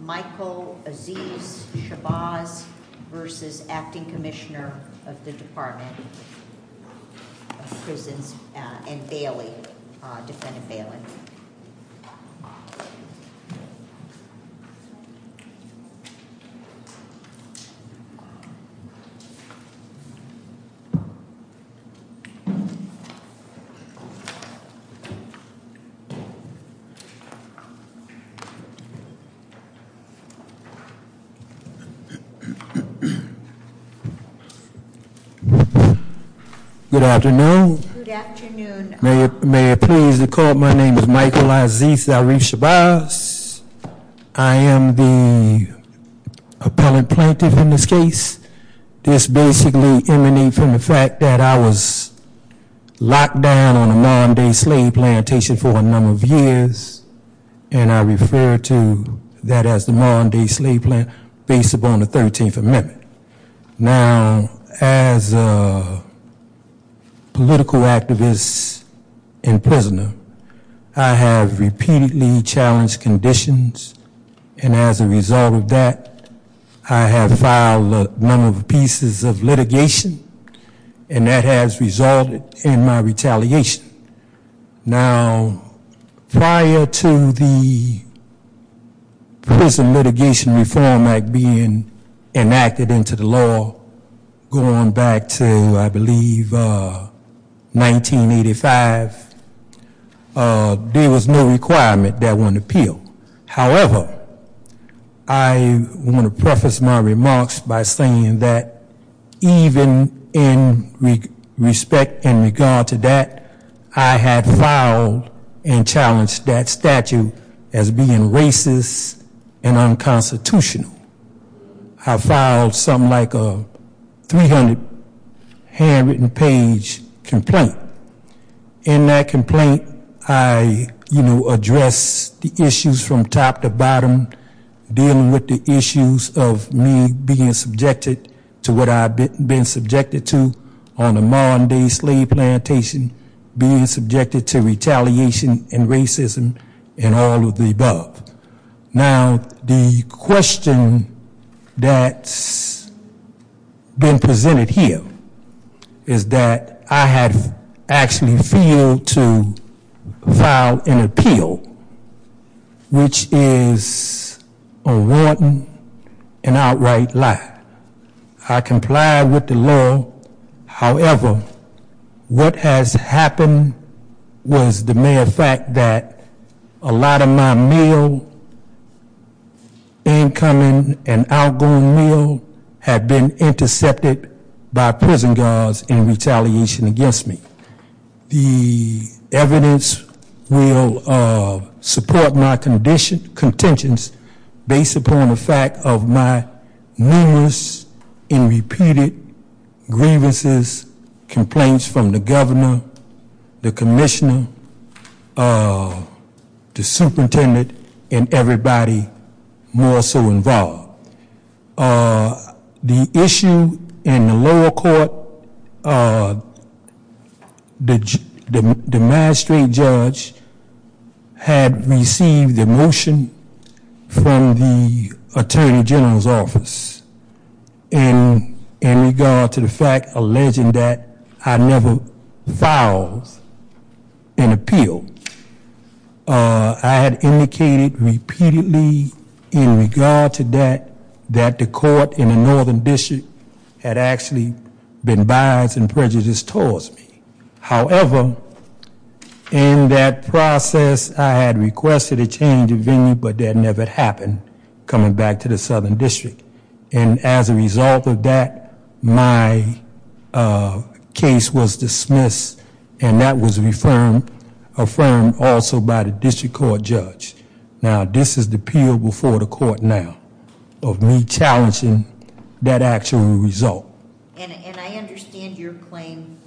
Michael Aziz Shabazz v. Acting Commissioner of the Department of Prisons and Bailey, Defendant Bailey. Good afternoon. May it please the court, my name is Michael Aziz Shabazz. I am the appellant plaintiff in this case. This basically emanates from the fact that I was locked down on a modern day slave plantation for a number of years and I refer to that as the modern day slave plant based upon the 13th amendment. Now as a political activist and prisoner I have repeatedly challenged conditions and as a result of that I have filed a number of pieces of litigation and that has resulted in my retaliation. Now prior to the Prison Mitigation Reform Act being enacted into the law going back to I believe 1985, there was no requirement that one appeal. However, I want to preface my remarks by saying that even in respect in regard to that I had filed and challenged that statute as being racist and unconstitutional. I filed something like a 300 handwritten page complaint. In that complaint I, you know, address the issues from top to bottom dealing with the issues of me being subjected to what I've been subjected to on a modern day slave plantation, being subjected to retaliation and racism and all of the above. Now the question that's been presented here is that I have actually failed to file an appeal which is a wanton and outright lie. I complied with the law, however, what has happened was the mere fact that a lot of my mail incoming and outgoing mail had been intercepted by prison guards in retaliation against me. The evidence will support my contentions based upon the fact of my numerous and repeated grievances, complaints from the governor, the commissioner, the superintendent and everybody more so involved. The issue in the lower court, uh, the magistrate judge had received the motion from the attorney general's office in regard to the fact alleging that I never filed an appeal. I had indicated repeatedly in regard to that that the court in the northern district had actually been biased and prejudiced towards me. However, in that process I had requested a change of venue but that never happened coming back to the southern district and as a result of that my case was dismissed and that was reaffirmed, affirmed also by the district court judge. Now this is the appeal before the court now of me challenging that actual result. And I understand your claim,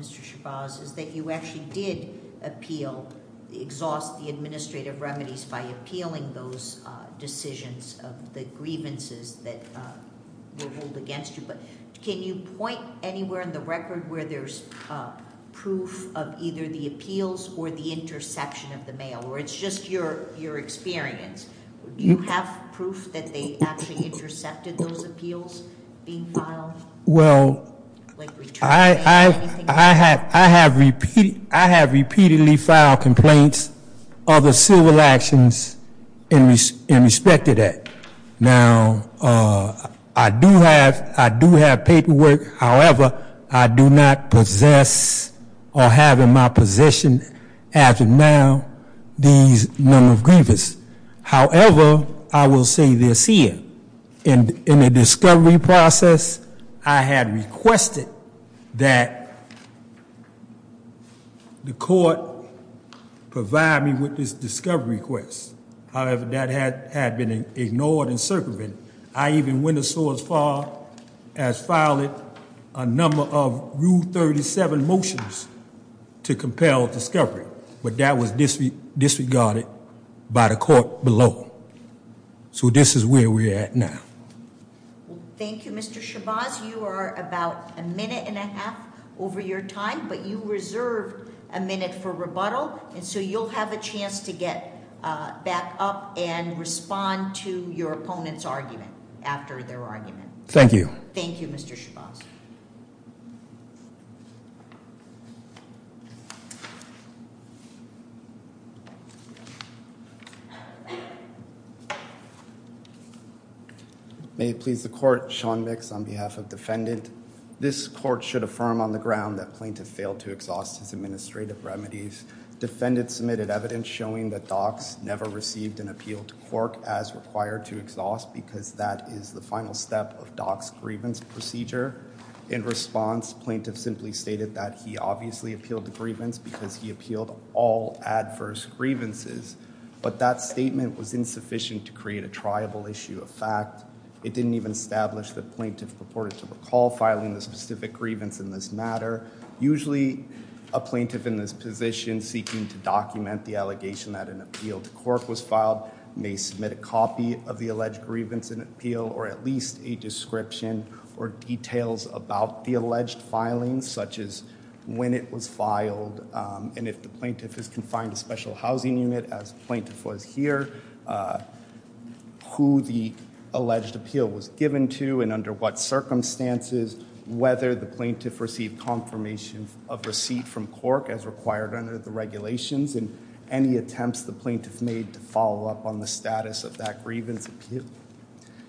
Mr. Shabazz, is that you actually did appeal, exhaust the administrative remedies by appealing those decisions of the grievances that were held against you, but can you point anywhere in the proof of either the appeals or the interception of the mail or it's just your experience. Do you have proof that they actually intercepted those appeals being filed? Well, I have repeatedly filed complaints of the civil actions in respect to that. Now I do have paperwork, however, I do not possess or have in my possession as of now these number of grievances. However, I will say this here, in the discovery process I had requested that the court provide me with this discovery request. However, that had been ignored and circumvented. I even went as far as filing a number of rule 37 motions to compel discovery, but that was disregarded by the court below. So this is where we're at now. Thank you, Mr. Shabazz. You are about a minute and a half over your time, but you reserved a minute for rebuttal and so you'll have a chance to get back up and respond to your opponent's argument after their argument. Thank you. Thank you, Mr. Shabazz. May it please the court, Sean Mix on behalf of defendant. This court should affirm on the ground that plaintiff failed to exhaust his administrative remedies. Defendant submitted evidence showing that docs never received an appeal to court as required to exhaust because that is the final step of docs grievance procedure. In response, plaintiff simply stated that he obviously appealed the grievance because he appealed all adverse grievances, but that statement was insufficient to create a triable issue of fact. It didn't even establish that plaintiff purported to recall filing the specific grievance in this matter. Usually a plaintiff in this position seeking to document the allegation that an appeal to court was filed may submit a copy of the alleged grievance and appeal or at least a description or details about the alleged filing, such as when it was filed and if the plaintiff is confined to special housing unit as plaintiff was here, who the alleged appeal was given to and under what circumstances, whether the plaintiff received confirmation of receipt from court as required under the regulations and any attempts the plaintiff made to follow up on the status of that grievance appeal.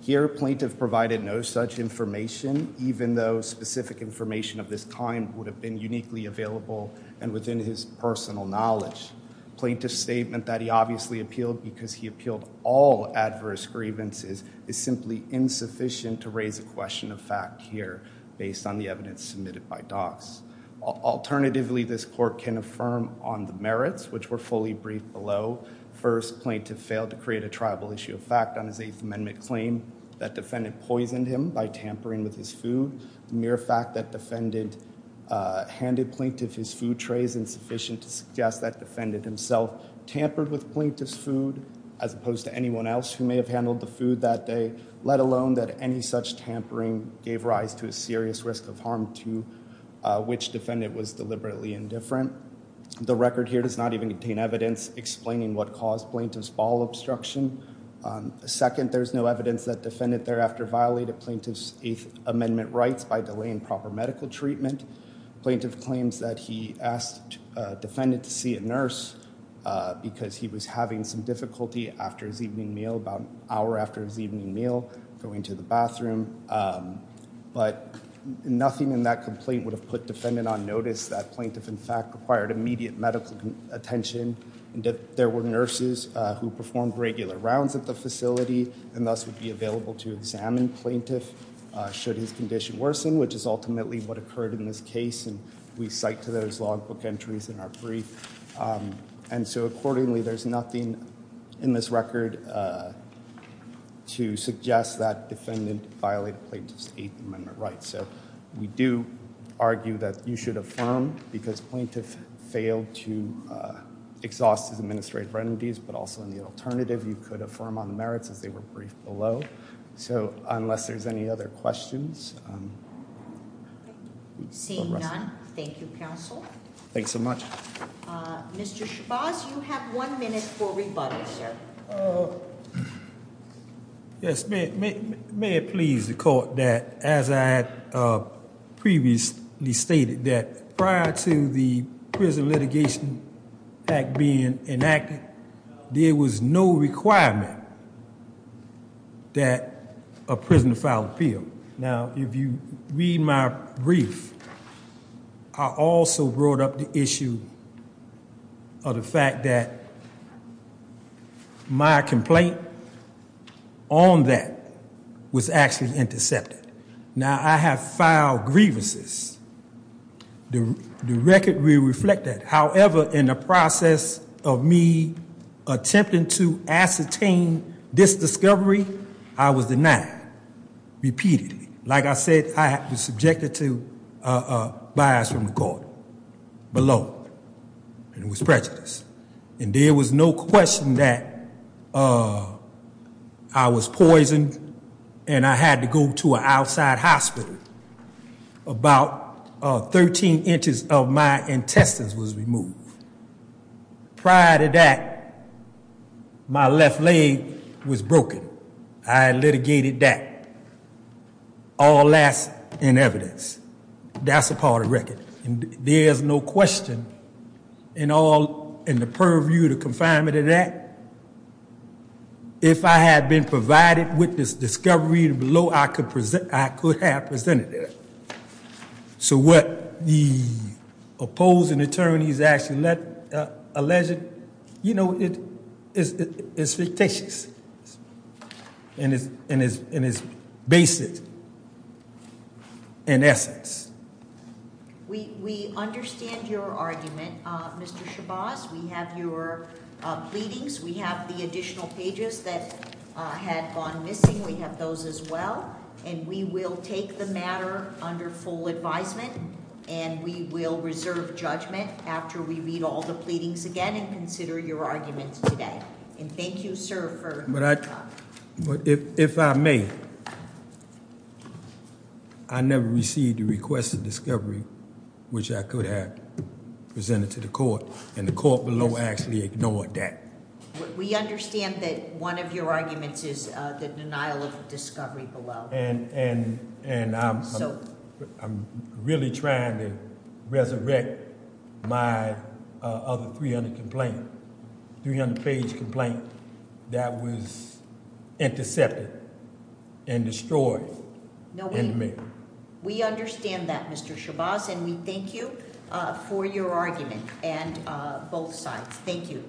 Here, plaintiff provided no such information even though specific information of this kind would have been uniquely available and within his personal knowledge. Plaintiff's statement that he obviously appealed because he appealed all adverse grievances is simply insufficient to raise a question of fact here based on the evidence submitted by docs. Alternatively, this court can affirm on the merits which were fully briefed below. First, plaintiff failed to create a triable issue of fact on his eighth amendment claim that defendant poisoned him by tampering with his food. The mere fact that defendant handed plaintiff his food trays insufficient to suggest that defendant himself tampered with plaintiff's food as opposed to anyone else who may have handled the food that day, let alone that any such tampering gave rise to a serious risk of harm to which defendant was deliberately indifferent. The record here does not even contain evidence explaining what caused plaintiff's ball obstruction. Second, there's no evidence that defendant thereafter violated plaintiff's eighth amendment rights by delaying proper medical treatment. Plaintiff claims that he asked defendant to see a nurse because he was having some difficulty after his evening meal, about an hour after his evening meal, going to the bathroom, but nothing in that complaint would have put defendant on notice that plaintiff in fact required immediate medical attention and that there were nurses who performed regular rounds at the facility and thus would be available to examine plaintiff should his condition worsen which is ultimately what occurred in this case and we cite to those logbook entries in our brief. And so accordingly there's nothing in this record to suggest that defendant violated plaintiff's eighth amendment rights. So we do argue that you should affirm because plaintiff failed to exhaust his administrative remedies but also in the alternative you could affirm on the merits as they were briefed below. So unless there's any other questions. Seeing none, thank you counsel. Thanks so much. Mr. Shabazz, you have one minute for rebuttal, sir. Yes, may it please the court that as I had previously stated that prior to the prison litigation act being enacted there was no requirement that a prisoner file appeal. Now if you read my brief, I also brought up the issue of the fact that my complaint on that was actually intercepted. Now I have filed grievances. The record will reflect that. However, in the process of me attempting to ascertain this discovery, I was denied repeatedly. Like I said, I was subjected to bias from the court below and it was prejudice. And there was no question that I was poisoned and I had to go to an outside hospital. About 13 inches of my intestines was removed. Prior to that my left leg was broken. I litigated that. All that's in evidence. That's a part of the record. And there's no question in the purview of the confinement of that, if I had been provided with this discovery below, I could have presented it. So what the opposing attorneys actually alleged, you know, it is fictitious and it's basic in essence. We understand your argument, Mr. Shabazz. We have your pleadings. We have the pages that had gone missing. We have those as well. And we will take the matter under full advisement and we will reserve judgment after we read all the pleadings again and consider your arguments today. And thank you, sir. But if I may, I never received a request of discovery which I could have presented to the court and the court below actually ignored that. We understand that one of your arguments is the denial of discovery below. And I'm really trying to resurrect my other 300 page complaint that was intercepted and destroyed. We understand that, Mr. Shabazz, and we thank you for your argument and both sides. Thank you.